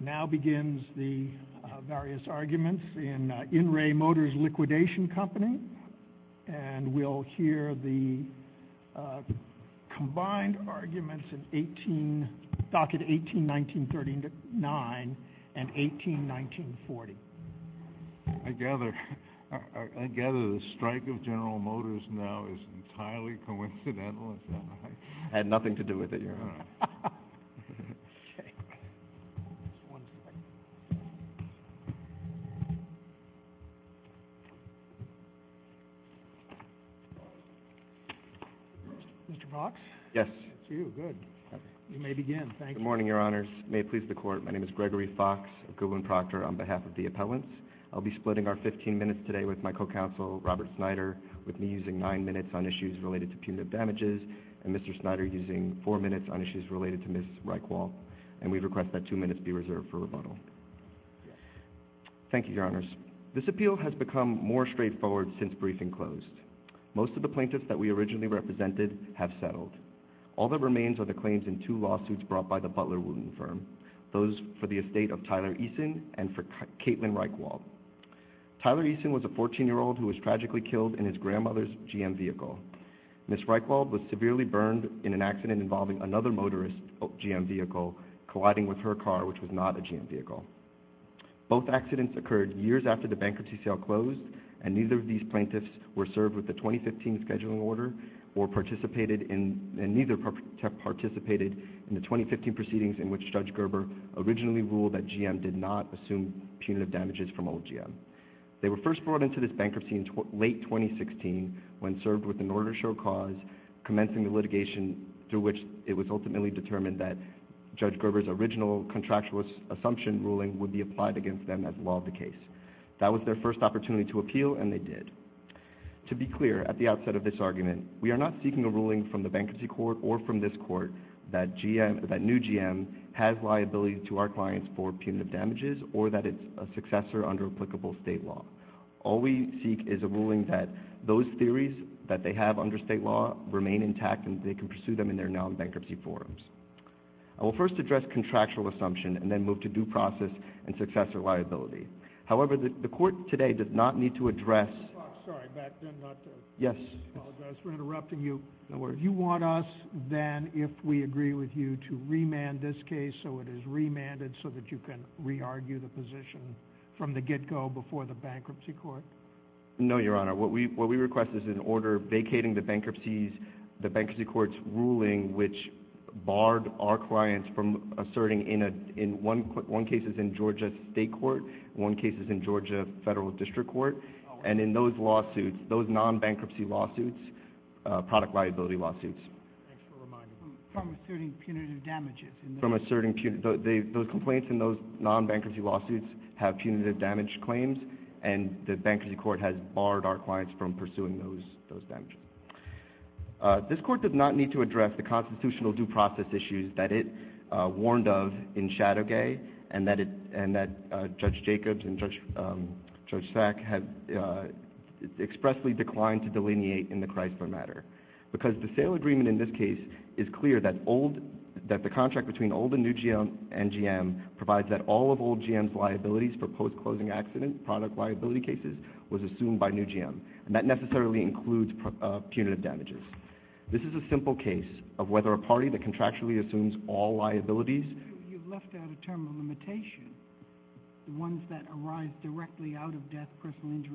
now begins the various arguments in in re Motors Liquidation Company and we'll hear the combined arguments in 18 docket 18 1939 and 18 1940 I gather I gather the arguments in 18 docket 18 1940. Mr. Fox. Yes. Good. You may begin. Thank you. Good morning, Your Honors. May it please the court. My name is Gregory Fox. Goodwin Proctor on behalf of the appellants. I'll be splitting our 15 minutes today with my co counsel Robert Snyder with me using nine minutes on issues related to punitive damages and Mr. Snyder using four minutes on issues related to Ms. Reichwald and we request that two minutes be reserved for rebuttal. Thank you, Your Honors. This appeal has become more straightforward since briefing closed. Most of the plaintiffs that we originally represented have settled. All that remains are the claims in two lawsuits brought by the Butler Wooten firm. Those for the estate of Tyler Eason and for Caitlin Reichwald. Tyler Eason was a 14 year old who was tragically killed in his grandmother's GM vehicle. Ms. Reichwald was severely burned in an accident involving another motorist GM vehicle colliding with her car which was not a GM vehicle. Both accidents occurred years after the bankruptcy sale closed and neither of these plaintiffs were served with the 2015 scheduling order or participated in and neither participated in the 2015 proceedings in which Judge Gerber originally ruled that GM did not assume punitive damages from old GM. They were first brought into this bankruptcy in late 2016 when served with an order show cause commencing the litigation through which it was ultimately determined that Judge Gerber's original contractual assumption ruling would be applied against them as law of the case. That was their first opportunity to appeal and they did. To be clear, at the outset of this argument, we are not seeking a ruling from the bankruptcy court or from this court that new GM has liability to our clients for punitive damages or that it's a successor under applicable state law. All we seek is a ruling that those theories that they have under state law remain intact and they can pursue them in their non-bankruptcy forums. I will first address contractual assumption and then move to due process and successor liability. However, the court today does not need to address... Sorry, back then not to... Yes. I apologize for interrupting you. No worries. You want us then if we agree with you to remand this case so it is remanded so that you can argue the position from the get-go before the bankruptcy court? No, Your Honor. What we request is an order vacating the bankruptcy court's ruling which barred our clients from asserting in one case is in Georgia state court, one case is in Georgia federal district court and in those lawsuits, those non-bankruptcy lawsuits, product liability lawsuits. Thanks for reminding me. From asserting punitive damages. From asserting... Those complaints in those non-bankruptcy lawsuits have punitive damage claims and the bankruptcy court has barred our clients from pursuing those damages. This court does not need to address the constitutional due process issues that it warned of in Shadow Gay and that Judge Jacobs and Judge Sack have expressly declined to delineate in the Chrysler matter because the sale agreement in this case is clear that the contract between old and new GM and GM provides that all of old GM's liabilities for post-closing accident product liability cases was assumed by new GM and that necessarily includes punitive damages. This is a simple case of whether a party that contractually assumes all liabilities... You've left out a term of limitation, the ones that arise directly out of death, personal damage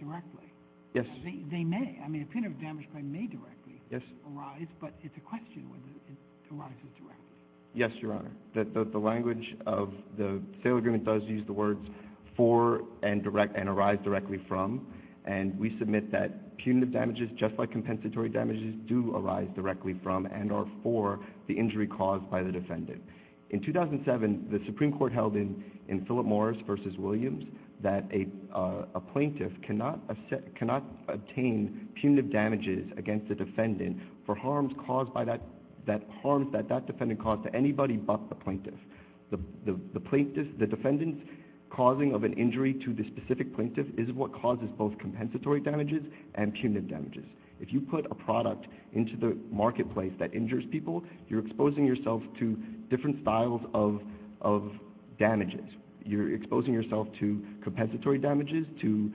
claim. Yes. They may. I mean, a punitive damage claim may directly arise, but it's a question whether it arises directly. Yes, Your Honor. The language of the sale agreement does use the words for and arise directly from, and we submit that punitive damages, just like compensatory damages, do arise directly from and are for the injury caused by the defendant. In 2007, the Supreme Court held in Philip Morris v. Williams that a plaintiff cannot obtain punitive damages against the defendant for harms caused by that... That harms that that defendant caused to anybody but the plaintiff. The defendant's causing of an injury to the specific plaintiff is what causes both compensatory damages and punitive damages. If you put a product into the marketplace that injures people, you're exposing yourself to different styles of damages. You're exposing yourself to compensatory damages to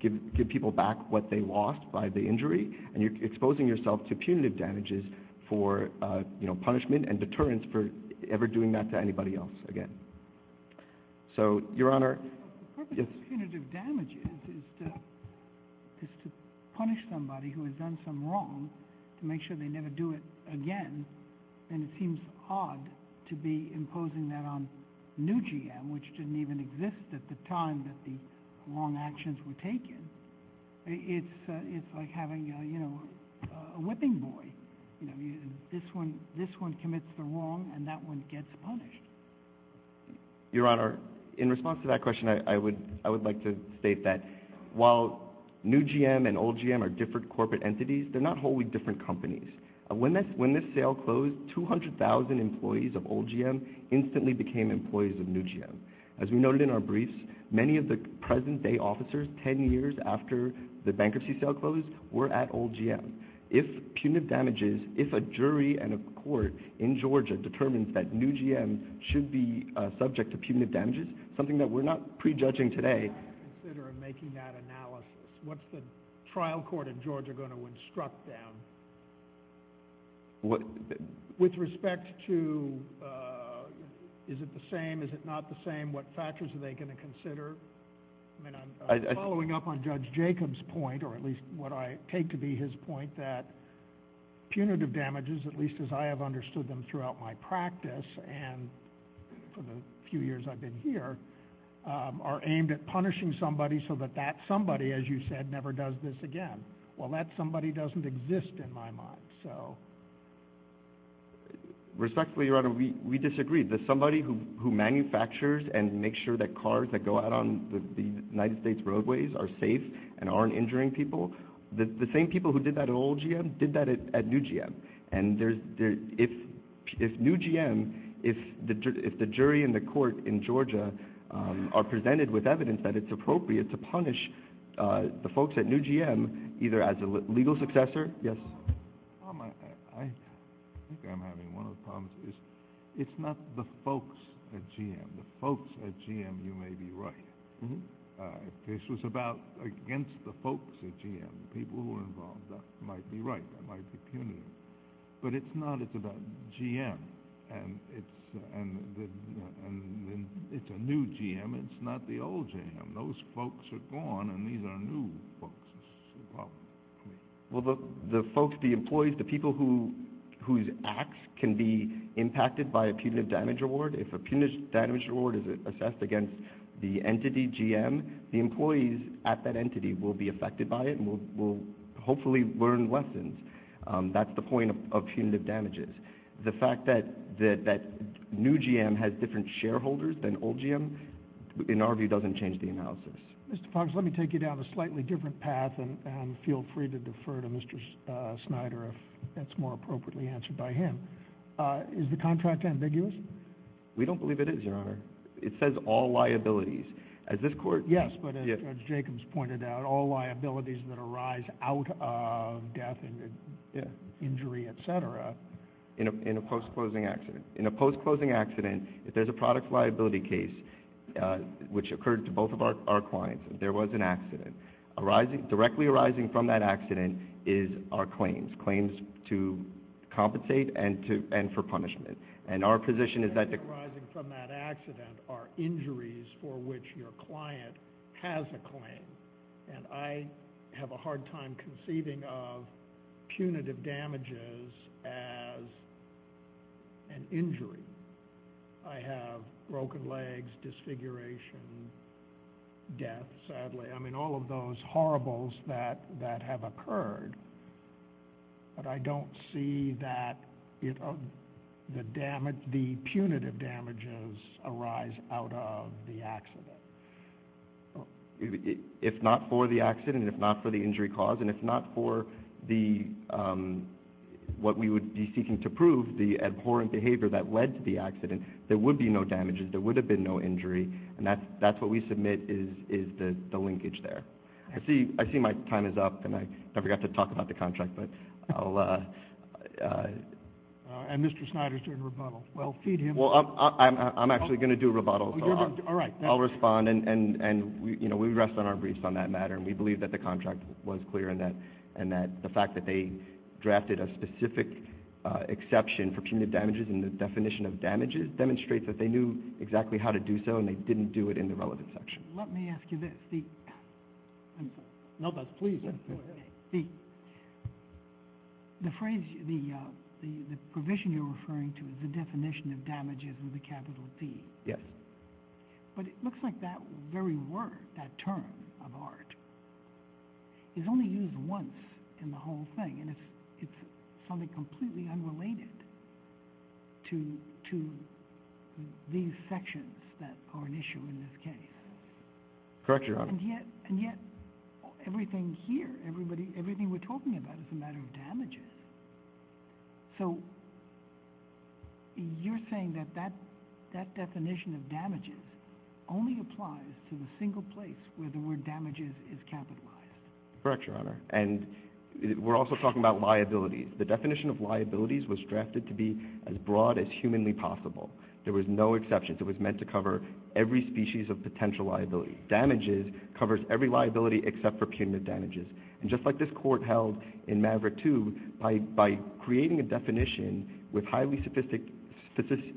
give people back what they lost by the injury, and you're exposing yourself to punitive damages for punishment and deterrence for ever doing that to anybody else again. So Your Honor... The purpose of punitive damages is to punish somebody who has done some wrong, to make sure they never do it again, and it seems odd to be imposing that on new GM, which didn't even exist at the time that the wrong actions were taken. It's like having, you know, a whipping boy. This one commits the wrong, and that one gets punished. Your Honor, in response to that question, I would like to state that while new GM and old GM are different corporate entities, they're not wholly different companies. When this sale closed, 200,000 employees of old GM instantly became employees of new GM. As we noted in our briefs, many of the present day officers 10 years after the bankruptcy sale closed were at old GM. If punitive damages, if a jury and a court in Georgia determines that new GM should be subject to punitive damages, something that we're not prejudging today... What's the trial court in Georgia going to instruct them? With respect to is it the same, is it not the same, what factors are they going to consider? I'm following up on Judge Jacob's point, or at least what I take to be his point, that punitive damages, at least as I have understood them throughout my practice and for the few years I've been here, are aimed at punishing somebody so that that somebody, as you said, never does this again. Well, that somebody doesn't exist in my mind. Respectfully, Your Honor, we disagree. The somebody who manufactures and makes sure that cars that go out on the United States roadways are safe and aren't injuring people, the same people who did that at old GM did that at new GM. And if new GM, if the jury and the court in Georgia are presented with evidence that it's appropriate to punish the folks at new GM, either as a legal successor... Yes? I think I'm having one of the problems, it's not the folks at GM, the folks at GM you may be right. If this was about against the folks at GM, the people who were involved, that might be right, that might be punitive. But it's not, it's about GM, and it's a new GM, it's not the old GM. Those folks are gone, and these are new folks, is the problem for me. Well, the folks, the employees, the people whose acts can be impacted by a punitive damage reward, if a punitive damage reward is assessed against the entity GM, the employees at that That's the point of punitive damages. The fact that new GM has different shareholders than old GM, in our view, doesn't change the analysis. Mr. Fox, let me take you down a slightly different path, and feel free to defer to Mr. Snyder if that's more appropriately answered by him. Is the contract ambiguous? We don't believe it is, Your Honor. It says all liabilities. As this court... Injury, et cetera. In a post-closing accident. In a post-closing accident, if there's a product liability case, which occurred to both of our clients, if there was an accident, directly arising from that accident is our claims. Claims to compensate and for punishment. And our position is that... Directly arising from that accident are injuries for which your client has a claim, and I have a hard time conceiving of punitive damages as an injury. I have broken legs, disfiguration, death, sadly. I mean, all of those horribles that have occurred, but I don't see that the punitive damages arise out of the accident. If not for the accident, if not for the injury cause, and if not for what we would be seeking to prove, the abhorrent behavior that led to the accident, there would be no damages. There would have been no injury, and that's what we submit is the linkage there. I see my time is up, and I forgot to talk about the contract, but I'll... And Mr. Snyder's doing a rebuttal. Well, feed him. Well, I'm actually going to do a rebuttal. All right. I'll respond, and we rest on our briefs on that matter, and we believe that the contract was clear and that the fact that they drafted a specific exception for punitive damages in the definition of damages demonstrates that they knew exactly how to do so, and they didn't do it in the relevant section. Let me ask you this. I'm sorry. No, that's... Please. Go ahead. The phrase... The provision you're referring to is the definition of damages with a capital D. Yes. But it looks like that very word, that term of art, is only used once in the whole thing, and it's something completely unrelated to these sections that are an issue in this case. Correct your honor. And yet, everything here, everything we're talking about is a matter of damages. So, you're saying that that definition of damages only applies to the single place where the word damages is capitalized. Correct your honor. And we're also talking about liabilities. The definition of liabilities was drafted to be as broad as humanly possible. There was no exceptions. It was meant to cover every species of potential liability. Damages covers every liability except for punitive damages. And just like this court held in Maverick 2, by creating a definition with highly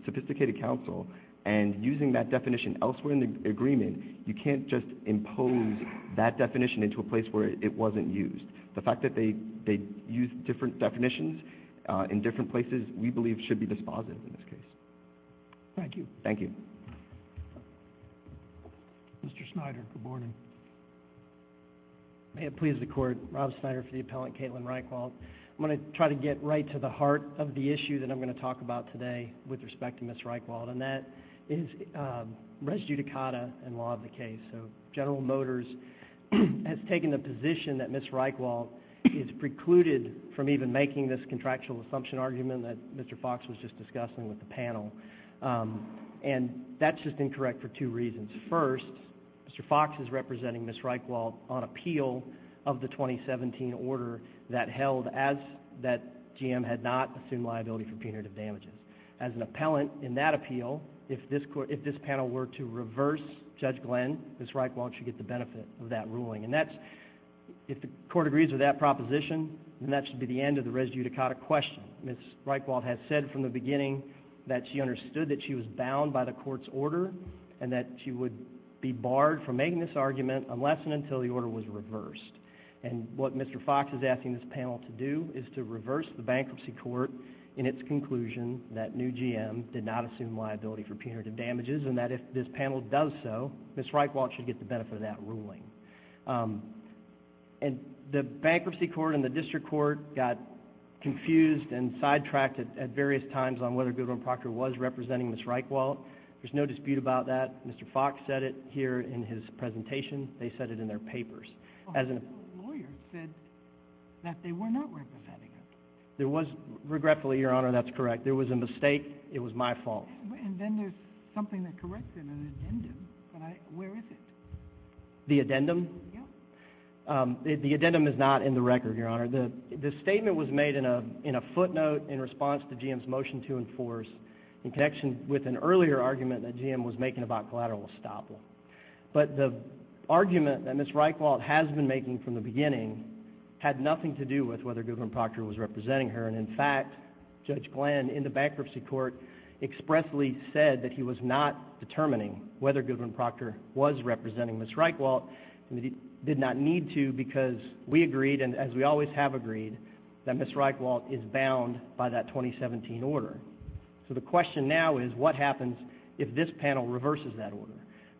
sophisticated counsel, and using that definition elsewhere in the agreement, you can't just impose that definition into a place where it wasn't used. The fact that they used different definitions in different places we believe should be dispositive in this case. Thank you. Thank you. Mr. Snyder, good morning. May it please the court. Rob Snyder for the appellant, Caitlin Reichwald. I'm going to try to get right to the heart of the issue that I'm going to talk about today with respect to Ms. Reichwald. And that is res judicata in law of the case. So, General Motors has taken the position that Ms. Reichwald is precluded from even making this contractual assumption argument that Mr. Fox was just discussing with the panel. And that's just incorrect for two reasons. First, Mr. Fox is representing Ms. Reichwald on appeal of the 2017 order that held that GM had not assumed liability for punitive damages. As an appellant in that appeal, if this panel were to reverse Judge Glenn, Ms. Reichwald should get the benefit of that ruling. And if the court agrees with that proposition, then that should be the end of the res judicata question. Ms. Reichwald has said from the beginning that she understood that she was bound by the court's order and that she would be barred from making this argument unless and until the order was reversed. And what Mr. Fox is asking this panel to do is to reverse the bankruptcy court in its conclusion that new GM did not assume liability for punitive damages and that if this panel does so, Ms. Reichwald should get the benefit of that ruling. And the bankruptcy court and the district court got confused and sidetracked at various times on whether Goodwin-Proctor was representing Ms. Reichwald. There's no dispute about that. Mr. Fox said it here in his presentation. They said it in their papers. The lawyer said that they were not representing her. Regretfully, Your Honor, that's correct. There was a mistake. It was my fault. And then there's something that corrects in an addendum, but where is it? The addendum? Yeah. The addendum is not in the record, Your Honor. The statement was made in a footnote in response to GM's motion to enforce in connection with an earlier argument that GM was making about collateral estoppel. But the argument that Ms. Reichwald has been making from the beginning had nothing to do with whether Goodwin-Proctor was representing her. And in fact, Judge Glenn in the bankruptcy court expressly said that he was not determining whether Goodwin-Proctor was representing Ms. Reichwald. He did not need to because we agreed, and as we always have agreed, that Ms. Reichwald is bound by that 2017 order. So the question now is what happens if this panel reverses that order?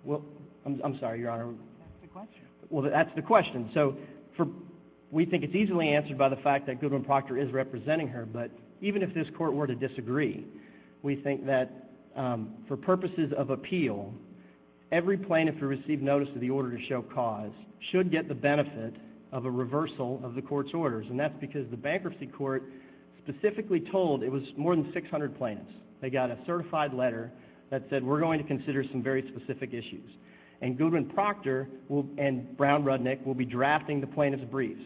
Well, I'm sorry, Your Honor. That's the question. Well, that's the question. So we think it's easily answered by the fact that Goodwin-Proctor is representing her. But even if this court were to disagree, we think that for purposes of appeal, every plaintiff who received notice of the order to show cause should get the benefit of a reversal of the court's orders. And that's because the bankruptcy court specifically told it was more than 600 plaintiffs. They got a certified letter that said, we're going to consider some very specific issues. And Goodwin-Proctor and Brown-Rudnick will be drafting the plaintiff's briefs.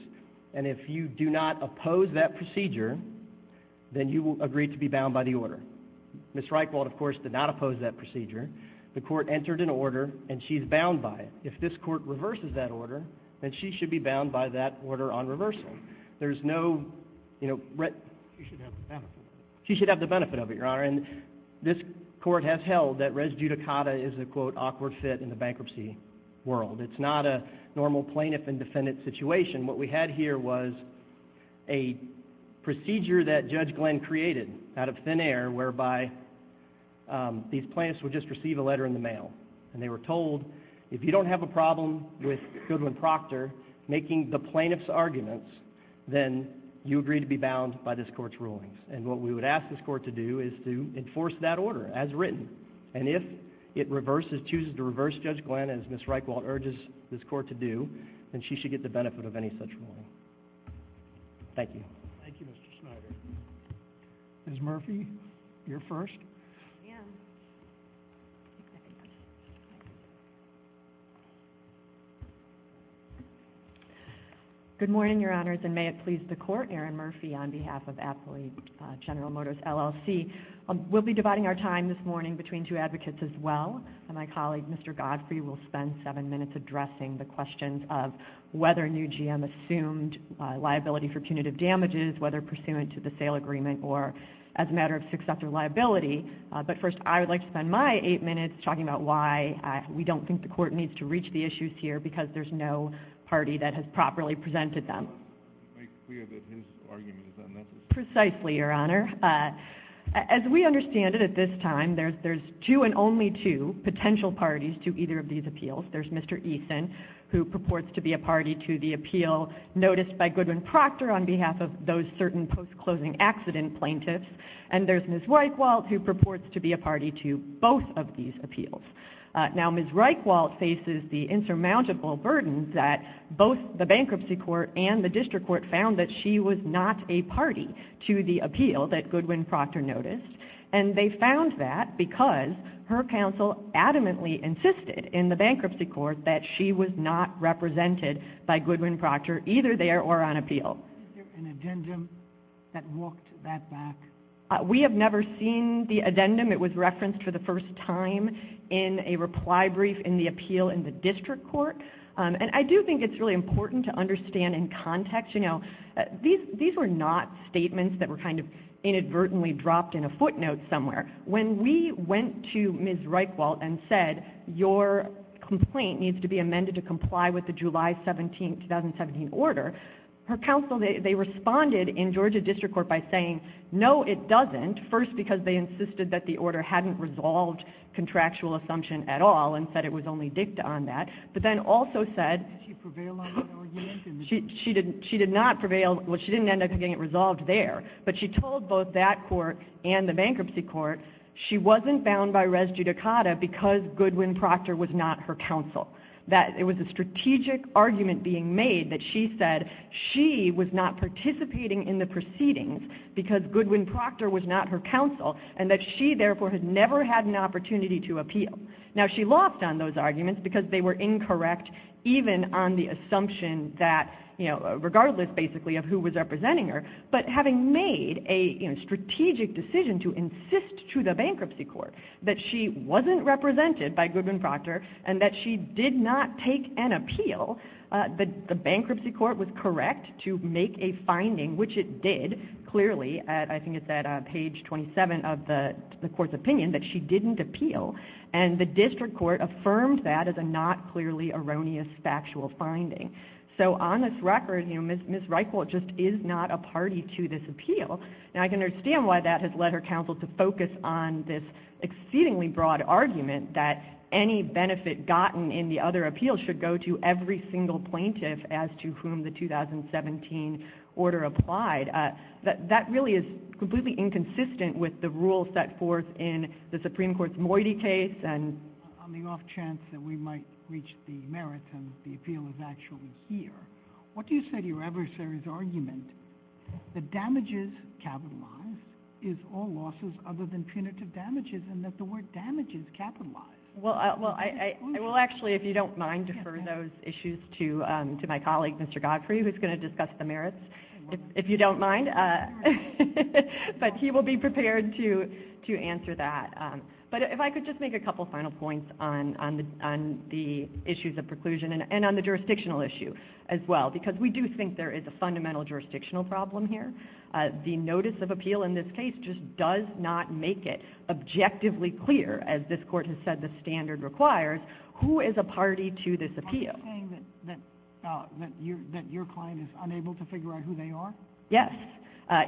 And if you do not oppose that procedure, then you will agree to be bound by the order. The court entered an order, and she's bound by it. If this court reverses that order, then she should be bound by that order on reversal. There's no, you know— She should have the benefit of it. She should have the benefit of it, Your Honor. And this court has held that res judicata is a, quote, awkward fit in the bankruptcy world. It's not a normal plaintiff and defendant situation. What we had here was a procedure that Judge Glenn created out of thin air whereby these plaintiffs receive a letter in the mail. And they were told, if you don't have a problem with Goodwin-Proctor making the plaintiff's arguments, then you agree to be bound by this court's rulings. And what we would ask this court to do is to enforce that order as written. And if it reverses, chooses to reverse Judge Glenn as Ms. Reichwald urges this court to do, then she should get the benefit of any such ruling. Thank you. Thank you, Mr. Schneider. Ms. Murphy, you're first. Good morning, Your Honors. And may it please the Court, Erin Murphy on behalf of Applied General Motors, LLC. We'll be dividing our time this morning between two advocates as well. And my colleague, Mr. Godfrey, will spend seven minutes addressing the questions of whether new GM assumed liability for punitive damages, whether pursuant to the sale agreement or as a matter of successor liability. But first, I would like to spend my eight minutes talking about why we don't think the Court needs to reach the issues here because there's no party that has properly presented them. To make clear that his argument is unnecessary. Precisely, Your Honor. As we understand it at this time, there's two and only two potential parties to either of these appeals. There's Mr. Eason, who purports to be a party to the appeal noticed by Goodwin-Proctor on behalf of those certain post-closing accident plaintiffs. And there's Ms. Reichwald, who purports to be a party to both of these appeals. Now, Ms. Reichwald faces the insurmountable burden that both the Bankruptcy Court and the District Court found that she was not a party to the appeal that Goodwin-Proctor noticed. And they found that because her counsel adamantly insisted in the Bankruptcy Court that she was not represented by Goodwin-Proctor either there or on appeal. Is there an addendum that walked that back? We have never seen the addendum. It was referenced for the first time in a reply brief in the appeal in the District Court. And I do think it's really important to understand in context, you know, these were not statements that were kind of inadvertently dropped in a footnote somewhere. When we went to Ms. Reichwald and said, your complaint needs to be amended to comply with the July 17, 2017 order, her counsel, they responded in Georgia District Court by saying, no, it doesn't, first because they insisted that the order hadn't resolved contractual assumption at all and said it was only dicta on that. But then also said... Did she prevail on that argument? She did not prevail. Well, she didn't end up getting it resolved there. But she told both that court and the Bankruptcy Court she wasn't bound by res judicata because Goodwin-Proctor was not her counsel. That it was a strategic argument being made that she said she was not participating in the proceedings because Goodwin-Proctor was not her counsel and that she, therefore, had never had an opportunity to appeal. Now, she lost on those arguments because they were incorrect even on the assumption that, you know, regardless, basically, of who was representing her. But having made a strategic decision to insist to the Bankruptcy Court that she wasn't represented by Goodwin-Proctor and that she did not take an appeal, the Bankruptcy Court was correct to make a finding, which it did, clearly. I think it's at page 27 of the court's opinion that she didn't appeal. And the District Court affirmed that as a not clearly erroneous factual finding. So on this record, you know, Ms. Reichwalt just is not a party to this appeal. Now, I can understand why that has led her counsel to focus on this exceedingly broad argument that any benefit gotten in the other appeals should go to every single plaintiff as to whom the 2017 order applied. That really is completely inconsistent with the rules set forth in the Supreme Court's Moiti case and... here. What do you say to your adversary's argument that damages capitalized is all losses other than punitive damages and that the word damages capitalized? Well, I will actually, if you don't mind, defer those issues to my colleague, Mr. Godfrey, who's going to discuss the merits, if you don't mind. But he will be prepared to answer that. But if I could just make a couple final points on the issues of preclusion and on the jurisdictional issue as well, because we do think there is a fundamental jurisdictional problem here. The notice of appeal in this case just does not make it objectively clear, as this court has said the standard requires, who is a party to this appeal. Are you saying that your client is unable to figure out who they are? Yes.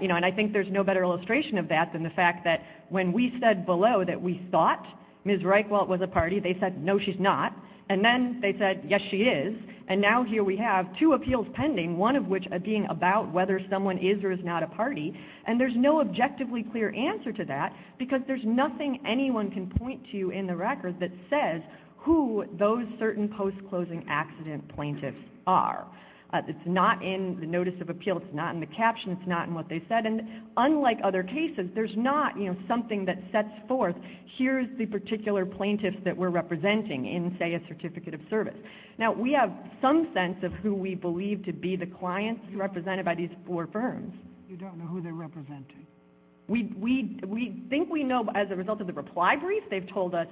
You know, and I think there's no better illustration of that than the fact that when we said below that we thought Ms. Reichwalt was a party, they said, no, she's not. And then they said, yes, she is. And now here we have two appeals pending, one of which being about whether someone is or is not a party. And there's no objectively clear answer to that, because there's nothing anyone can point to in the record that says who those certain post-closing accident plaintiffs are. It's not in the notice of appeal. It's not in the caption. It's not in what they said. And unlike other cases, there's not something that sets forth, here's the particular plaintiffs that we're representing in, say, a certificate of service. Now, we have some sense of who we believe to be the clients represented by these four firms. You don't know who they're representing? We think we know as a result of the reply brief. They've told us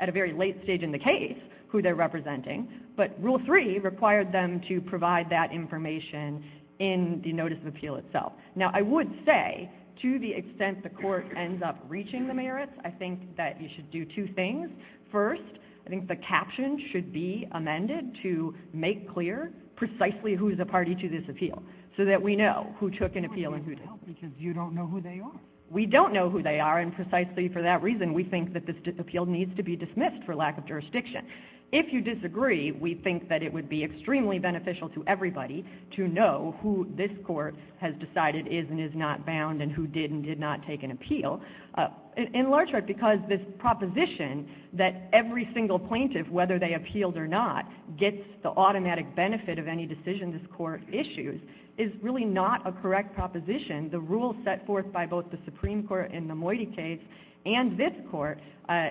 at a very late stage in the case who they're representing. But Rule 3 required them to provide that information in the notice of appeal itself. Now, I would say, to the extent the court ends up reaching the merits, I think that you should do two things. First, I think the caption should be amended to make clear precisely who is a party to this appeal, so that we know who took an appeal and who didn't. You don't know who they are. We don't know who they are, and precisely for that reason, we think that this appeal needs to be dismissed for lack of jurisdiction. If you disagree, we think that it would be extremely beneficial to everybody to know who this court has decided is and is not bound, and who did and did not take an appeal. In large part because this proposition that every single plaintiff, whether they appealed or not, gets the automatic benefit of any decision this court issues is really not a correct proposition. The rule set forth by both the Supreme Court in the Moiti case and this court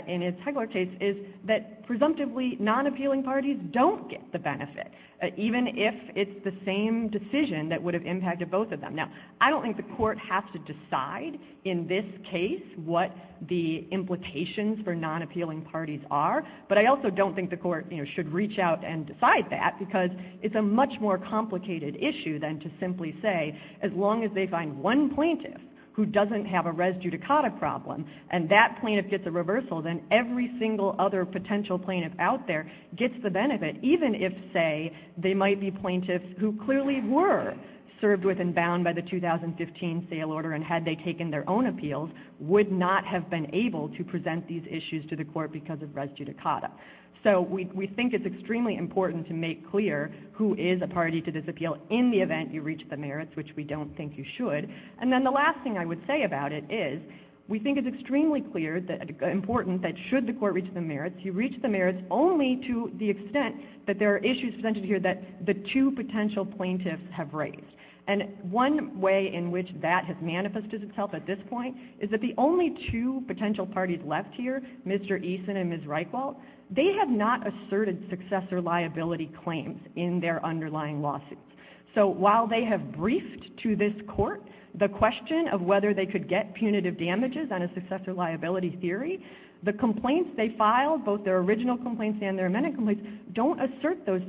in its Hegeler case is that presumptively non-appealing parties don't get the benefit, even if it's the same decision that would have impacted both of them. Now, I don't think the court has to decide in this case what the implications for non-appealing parties are, but I also don't think the court should reach out and decide that, because it's a much more complicated issue than to simply say, as long as they find one plaintiff who doesn't have a res judicata problem, and that plaintiff gets a reversal, then every single other potential plaintiff out there gets the benefit, even if, say, they might be plaintiffs who clearly were served with and by the 2015 sale order, and had they taken their own appeals, would not have been able to present these issues to the court because of res judicata. So we think it's extremely important to make clear who is a party to this appeal in the event you reach the merits, which we don't think you should. And then the last thing I would say about it is we think it's extremely important that should the court reach the merits, you reach the merits only to the extent that there are issues presented here that the two potential plaintiffs have raised. And one way in which that has manifested itself at this point is that the only two potential parties left here, Mr. Eason and Ms. Reichwald, they have not asserted successor liability claims in their underlying lawsuits. So while they have briefed to this court the question of whether they could get punitive damages on a successor liability theory, the complaints they filed, both their original complaints and their amended complaints, don't assert those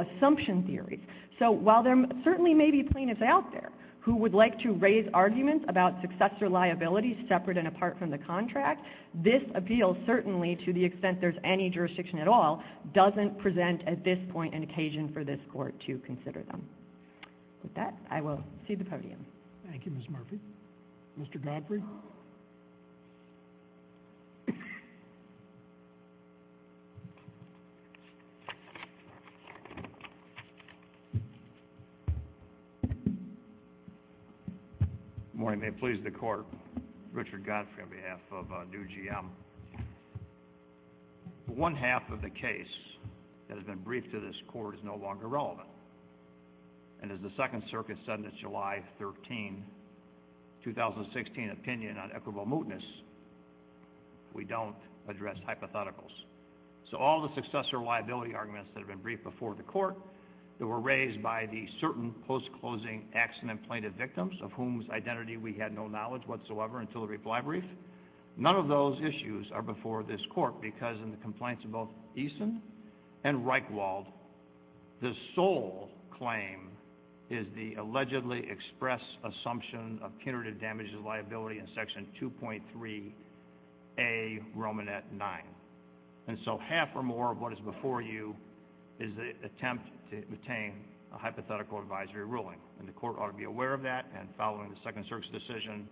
assumption theories. So while there certainly may be plaintiffs out there who would like to raise arguments about successor liability separate and apart from the contract, this appeal certainly, to the extent there's any jurisdiction at all, doesn't present at this point an occasion for this court to consider them. With that, I will cede the podium. Thank you, Ms. Murphy. Mr. Godfrey? Good morning. May it please the court. Richard Godfrey on behalf of Due GM. One half of the case that has been briefed to this court is no longer relevant. And as the Second Circuit said in its July 13, 2016, opinion on equitable mootness, we don't address hypotheticals. So all the successor liability arguments that have been briefed before the court that were raised by the certain post-closing accident plaintiff victims of whom's identity we had no knowledge whatsoever until the reply brief, none of those issues are before this court because in the complaints of both Eason and Reichwald, the sole claim is the allegedly expressed assumption of punitive damages liability in Section 2.3A Romanet 9. And so half or more of what is before you is the attempt to obtain a hypothetical advisory ruling. And the court ought to be aware of that. And following the Second Circuit's decision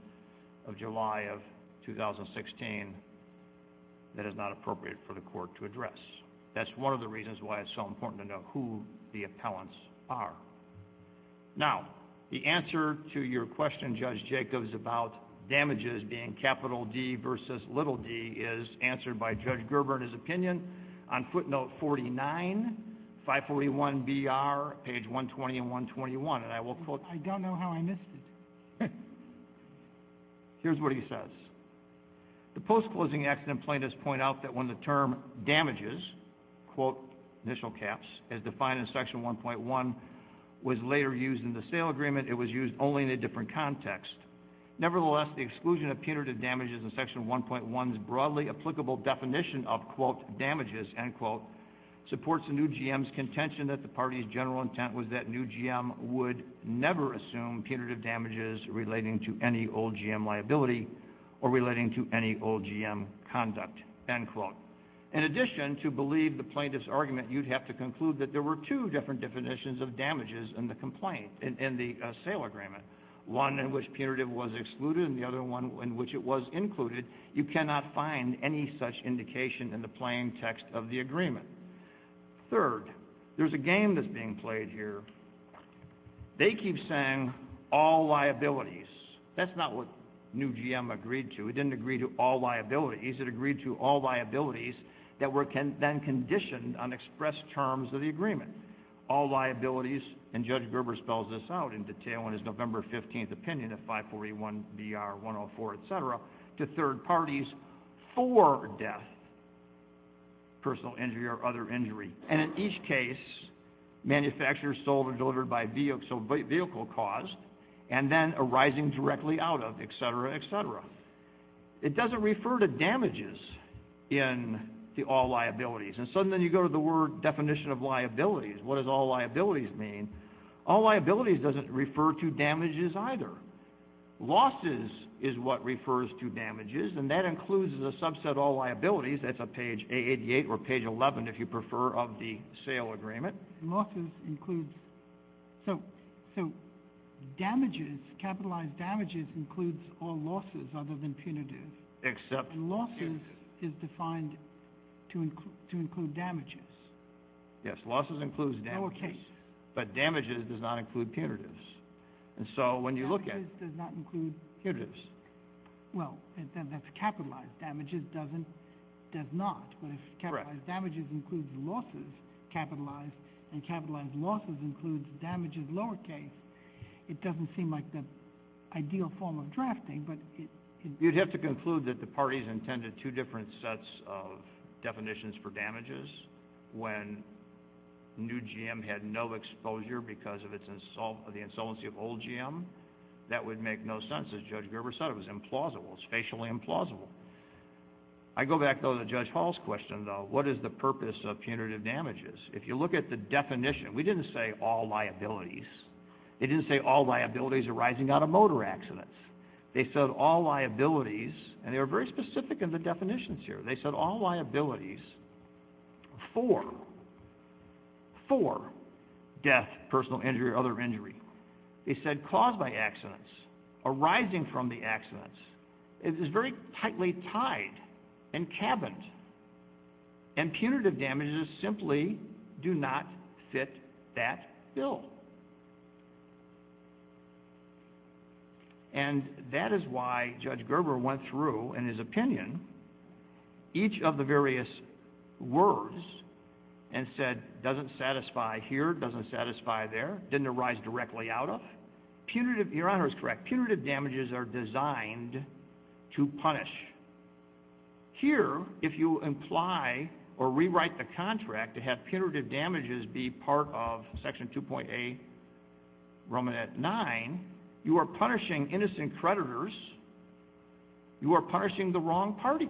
of July of 2016, that is not appropriate for the court to address. That's one of the reasons why it's so important to know who the appellants are. Now, the answer to your question, Judge Jacobs, about damages being capital D versus little d is answered by Judge Gerber in his opinion on footnote 49, 541BR, page 120 and 121. And I will quote, I don't know how I missed it. Here's what he says. The post-closing accident plaintiffs point out that when the term damages, quote, initial caps, as defined in Section 1.1, was later used in the sale agreement. It was used only in a different context. Nevertheless, the exclusion of punitive damages in Section 1.1's broadly applicable definition of, quote, damages, end quote, supports the new GM's contention that the party's general intent was that new GM would never assume punitive damages relating to any old GM liability or relating to any old GM conduct, end quote. In addition, to believe the plaintiff's argument, you'd have to conclude that there were two different definitions of damages in the complaint, in the sale agreement. One in which punitive was excluded and the other one in which it was included. You cannot find any such indication in the plain text of the agreement. Third, there's a game that's being played here. They keep saying all liabilities. That's not what new GM agreed to. It didn't agree to all liabilities. It agreed to all liabilities that were then conditioned on express terms of the agreement. All liabilities, and Judge Gerber spells this out in detail in his November 15th opinion of 541 BR 104, et cetera, to third parties for death, personal injury or other injury. In each case, manufacturers sold or delivered by vehicle cause and then arising directly out of, et cetera, et cetera. It doesn't refer to damages in the all liabilities. Suddenly you go to the word definition of liabilities. What does all liabilities mean? All liabilities doesn't refer to damages either. Losses is what refers to damages and that includes as a subset all liabilities. That's page 888 or page 11, if you prefer, of the sale agreement. Losses includes, so damages, capitalized damages includes all losses other than punitive. Except punitive. Losses is defined to include damages. Yes. Losses includes damages. Lower case. But damages does not include punitives. And so when you look at it. Losses does not include. Punitives. Well, that's capitalized. Damages doesn't, does not. Correct. But if capitalized damages includes losses, capitalized, and capitalized losses includes damages lower case, it doesn't seem like the ideal form of drafting, but it. You'd have to conclude that the parties intended two different sets of definitions for damages when new GM had no exposure because of the insolvency of old GM. That would make no sense. As Judge Gerber said, it was implausible. It's facially implausible. I go back though to Judge Hall's question though. What is the purpose of punitive damages? If you look at the definition, we didn't say all liabilities. They didn't say all liabilities arising out of motor accidents. They said all liabilities, and they were very specific in the definitions here. They said all liabilities for, for death, personal injury, other injury. They said caused by accidents, arising from the accidents. It is very tightly tied and cabined. And punitive damages simply do not fit that bill. And that is why Judge Gerber went through, in his opinion, each of the various words and said, doesn't satisfy here, doesn't satisfy there, didn't arise directly out of. Punitive, Your Honor is correct. Punitive damages are designed to punish. Here, if you imply or rewrite the contract to have punitive damages be part of Section 2. A, Roman at nine, you are punishing innocent creditors. You are punishing the wrong party.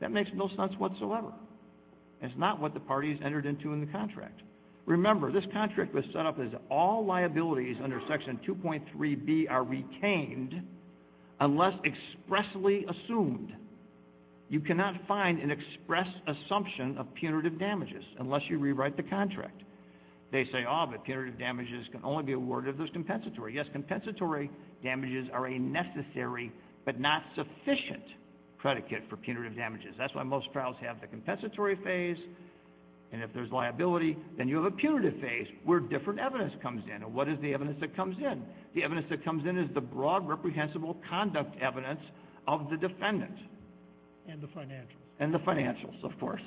That makes no sense whatsoever. It's not what the parties entered into in the contract. Remember, this contract was set up as all liabilities under Section 2. 3B are retained unless expressly assumed. You cannot find an express assumption of punitive damages unless you rewrite the contract. They say, oh, but punitive damages can only be awarded if there's compensatory. Yes, compensatory damages are a necessary but not sufficient predicate for punitive damages. That's why most trials have the compensatory phase. And if there's liability, then you have a punitive phase where different evidence comes in. And what is the evidence that comes in? The evidence that comes in is the broad, reprehensible conduct and the evidence of the defendant. And the financials. And the financials, of course.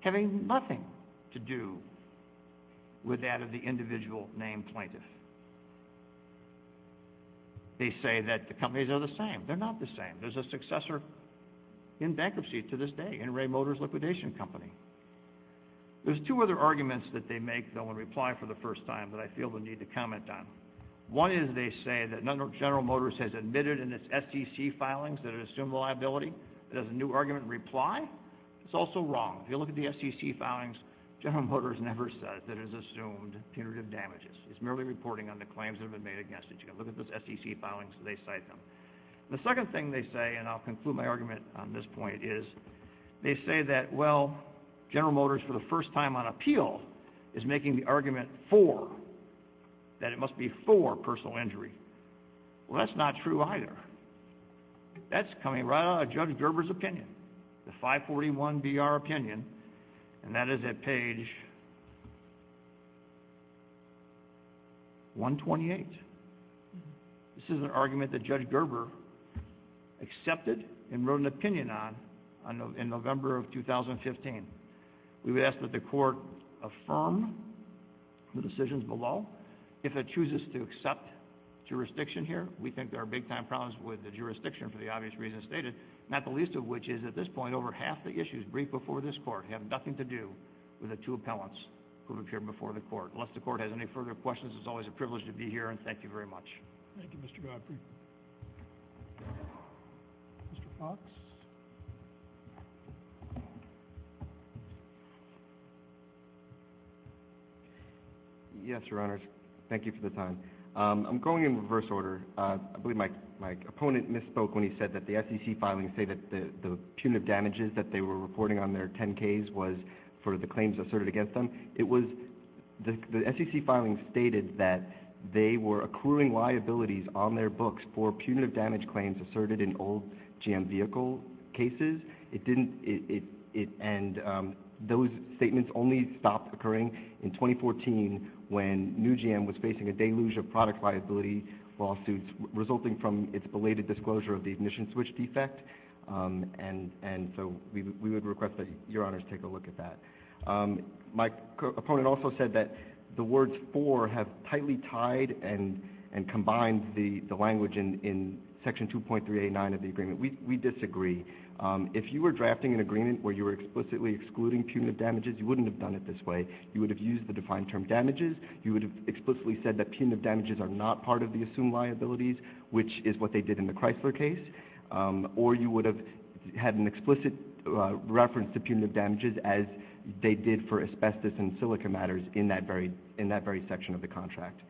Having nothing to do with that of the individual named plaintiff. They say that the companies are the same. They're not the same. There's a successor in bankruptcy to this day, in Ray Motors' liquidation company. There's two other arguments that they make, though, in reply for the first time that I feel the need to comment on. One is, they say, that General Motors has admitted in its SEC filings that it assumed the liability. It has a new argument in reply. It's also wrong. If you look at the SEC filings, General Motors never says that it has assumed punitive damages. It's merely reporting on the claims that have been made against it. You can look at those SEC filings. They cite them. The second thing they say, and I'll conclude my argument on this point, is they say that, well, General Motors, for the first time on appeal, is making the argument for, that it must be for, personal injury. Well, that's not true either. That's coming right out of Judge Gerber's opinion, the 541-BR opinion, and that is at page 128. This is an argument that Judge Gerber accepted and wrote an opinion on in November of 2015. We would ask that the court affirm the decisions below. If it chooses to accept jurisdiction here, we think there are big-time problems with the jurisdiction for the obvious reasons stated, not the least of which is, at this point, over half the issues briefed before this court have nothing to do with the two appellants who appeared before the court. Unless the court has any further questions, it's always a privilege to be here, and thank you very much. Thank you, Mr. Godfrey. Mr. Fox? Yes, Your Honors. Thank you for the time. I'm going in reverse order. I believe my opponent misspoke when he said that the SEC filings say that the punitive damages that they were reporting on their 10-Ks was for the claims asserted against them. It was the SEC filings stated that they were accruing liabilities on their books for punitive damage claims asserted in old GM vehicle cases. And those statements only stopped occurring in 2014 when new GM was facing a deluge of product liability lawsuits resulting from its belated disclosure of the ignition switch defect. And so we would request that Your Honors take a look at that. My opponent also said that the words for have tightly tied and we disagree. If you were drafting an agreement where you were explicitly excluding punitive damages, you wouldn't have done it this way. You would have used the defined term damages. You would have explicitly said that punitive damages are not part of the assumed liabilities, which is what they did in the Chrysler case. Or you would have had an explicit reference to punitive damages as they did for asbestos and silica matters in that very section of the contract.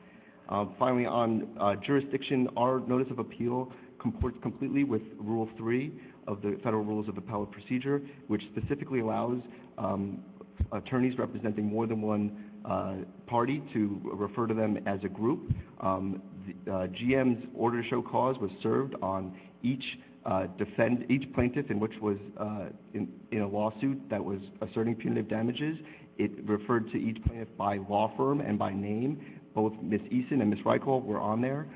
Finally, on jurisdiction, our notice of appeal comports completely with Rule 3 of the Federal Rules of Appellate Procedure, which specifically allows attorneys representing more than one party to refer to them as a group. GM's order to show cause was served on each plaintiff in which was in a lawsuit that was asserting punitive damages. It referred to each plaintiff by law firm and by name. Both Ms. Eason and Ms. Reichelt were on there.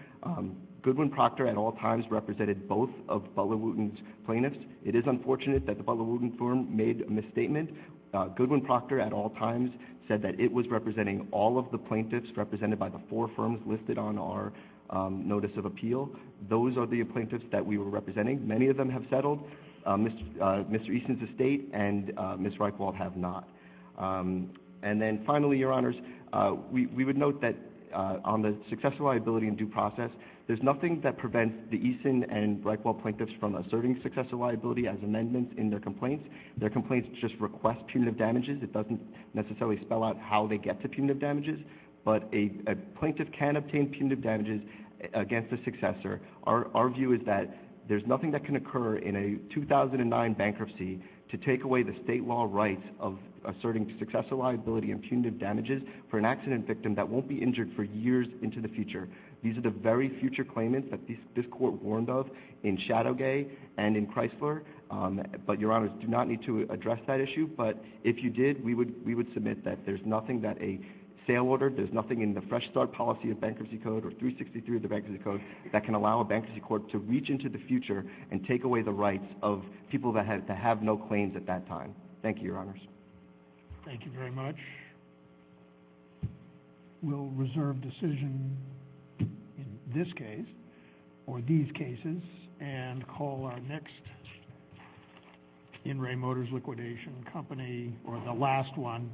Goodwin-Proctor at all times represented both of Butler Wooten's plaintiffs. It is unfortunate that the Butler Wooten firm made a misstatement. Goodwin-Proctor at all times said that it was representing all of the plaintiffs represented by the four firms listed on our notice of appeal. Those are the plaintiffs that we were representing. Many of them have settled. Mr. Eason's estate and Ms. Reichelt have not. And then finally, Your Honors, we would note that on the successful liability and due process, there's nothing that prevents the Eason and Reichelt plaintiffs from asserting successful liability as amendments in their complaints. Their complaints just request punitive damages. It doesn't necessarily spell out how they get to punitive damages. But a plaintiff can obtain punitive damages against the successor. Our view is that there's nothing that can occur in a 2009 bankruptcy to take away the state law rights of asserting successful liability and punitive damages for an accident victim that won't be injured for years into the future. These are the very future claimants that this court warned of in Shadowgay and in Chrysler. But, Your Honors, do not need to address that issue. But if you did, we would submit that there's nothing that a sale order, there's nothing in the fresh start policy of bankruptcy code or 363 of the bankruptcy code that can allow a bankruptcy court to reach into the future and take away the rights of people that have no claims at that time. Thank you, Your Honors. Thank you very much. We'll reserve decision in this case or these cases and call our next In re Motors liquidation company or the last one.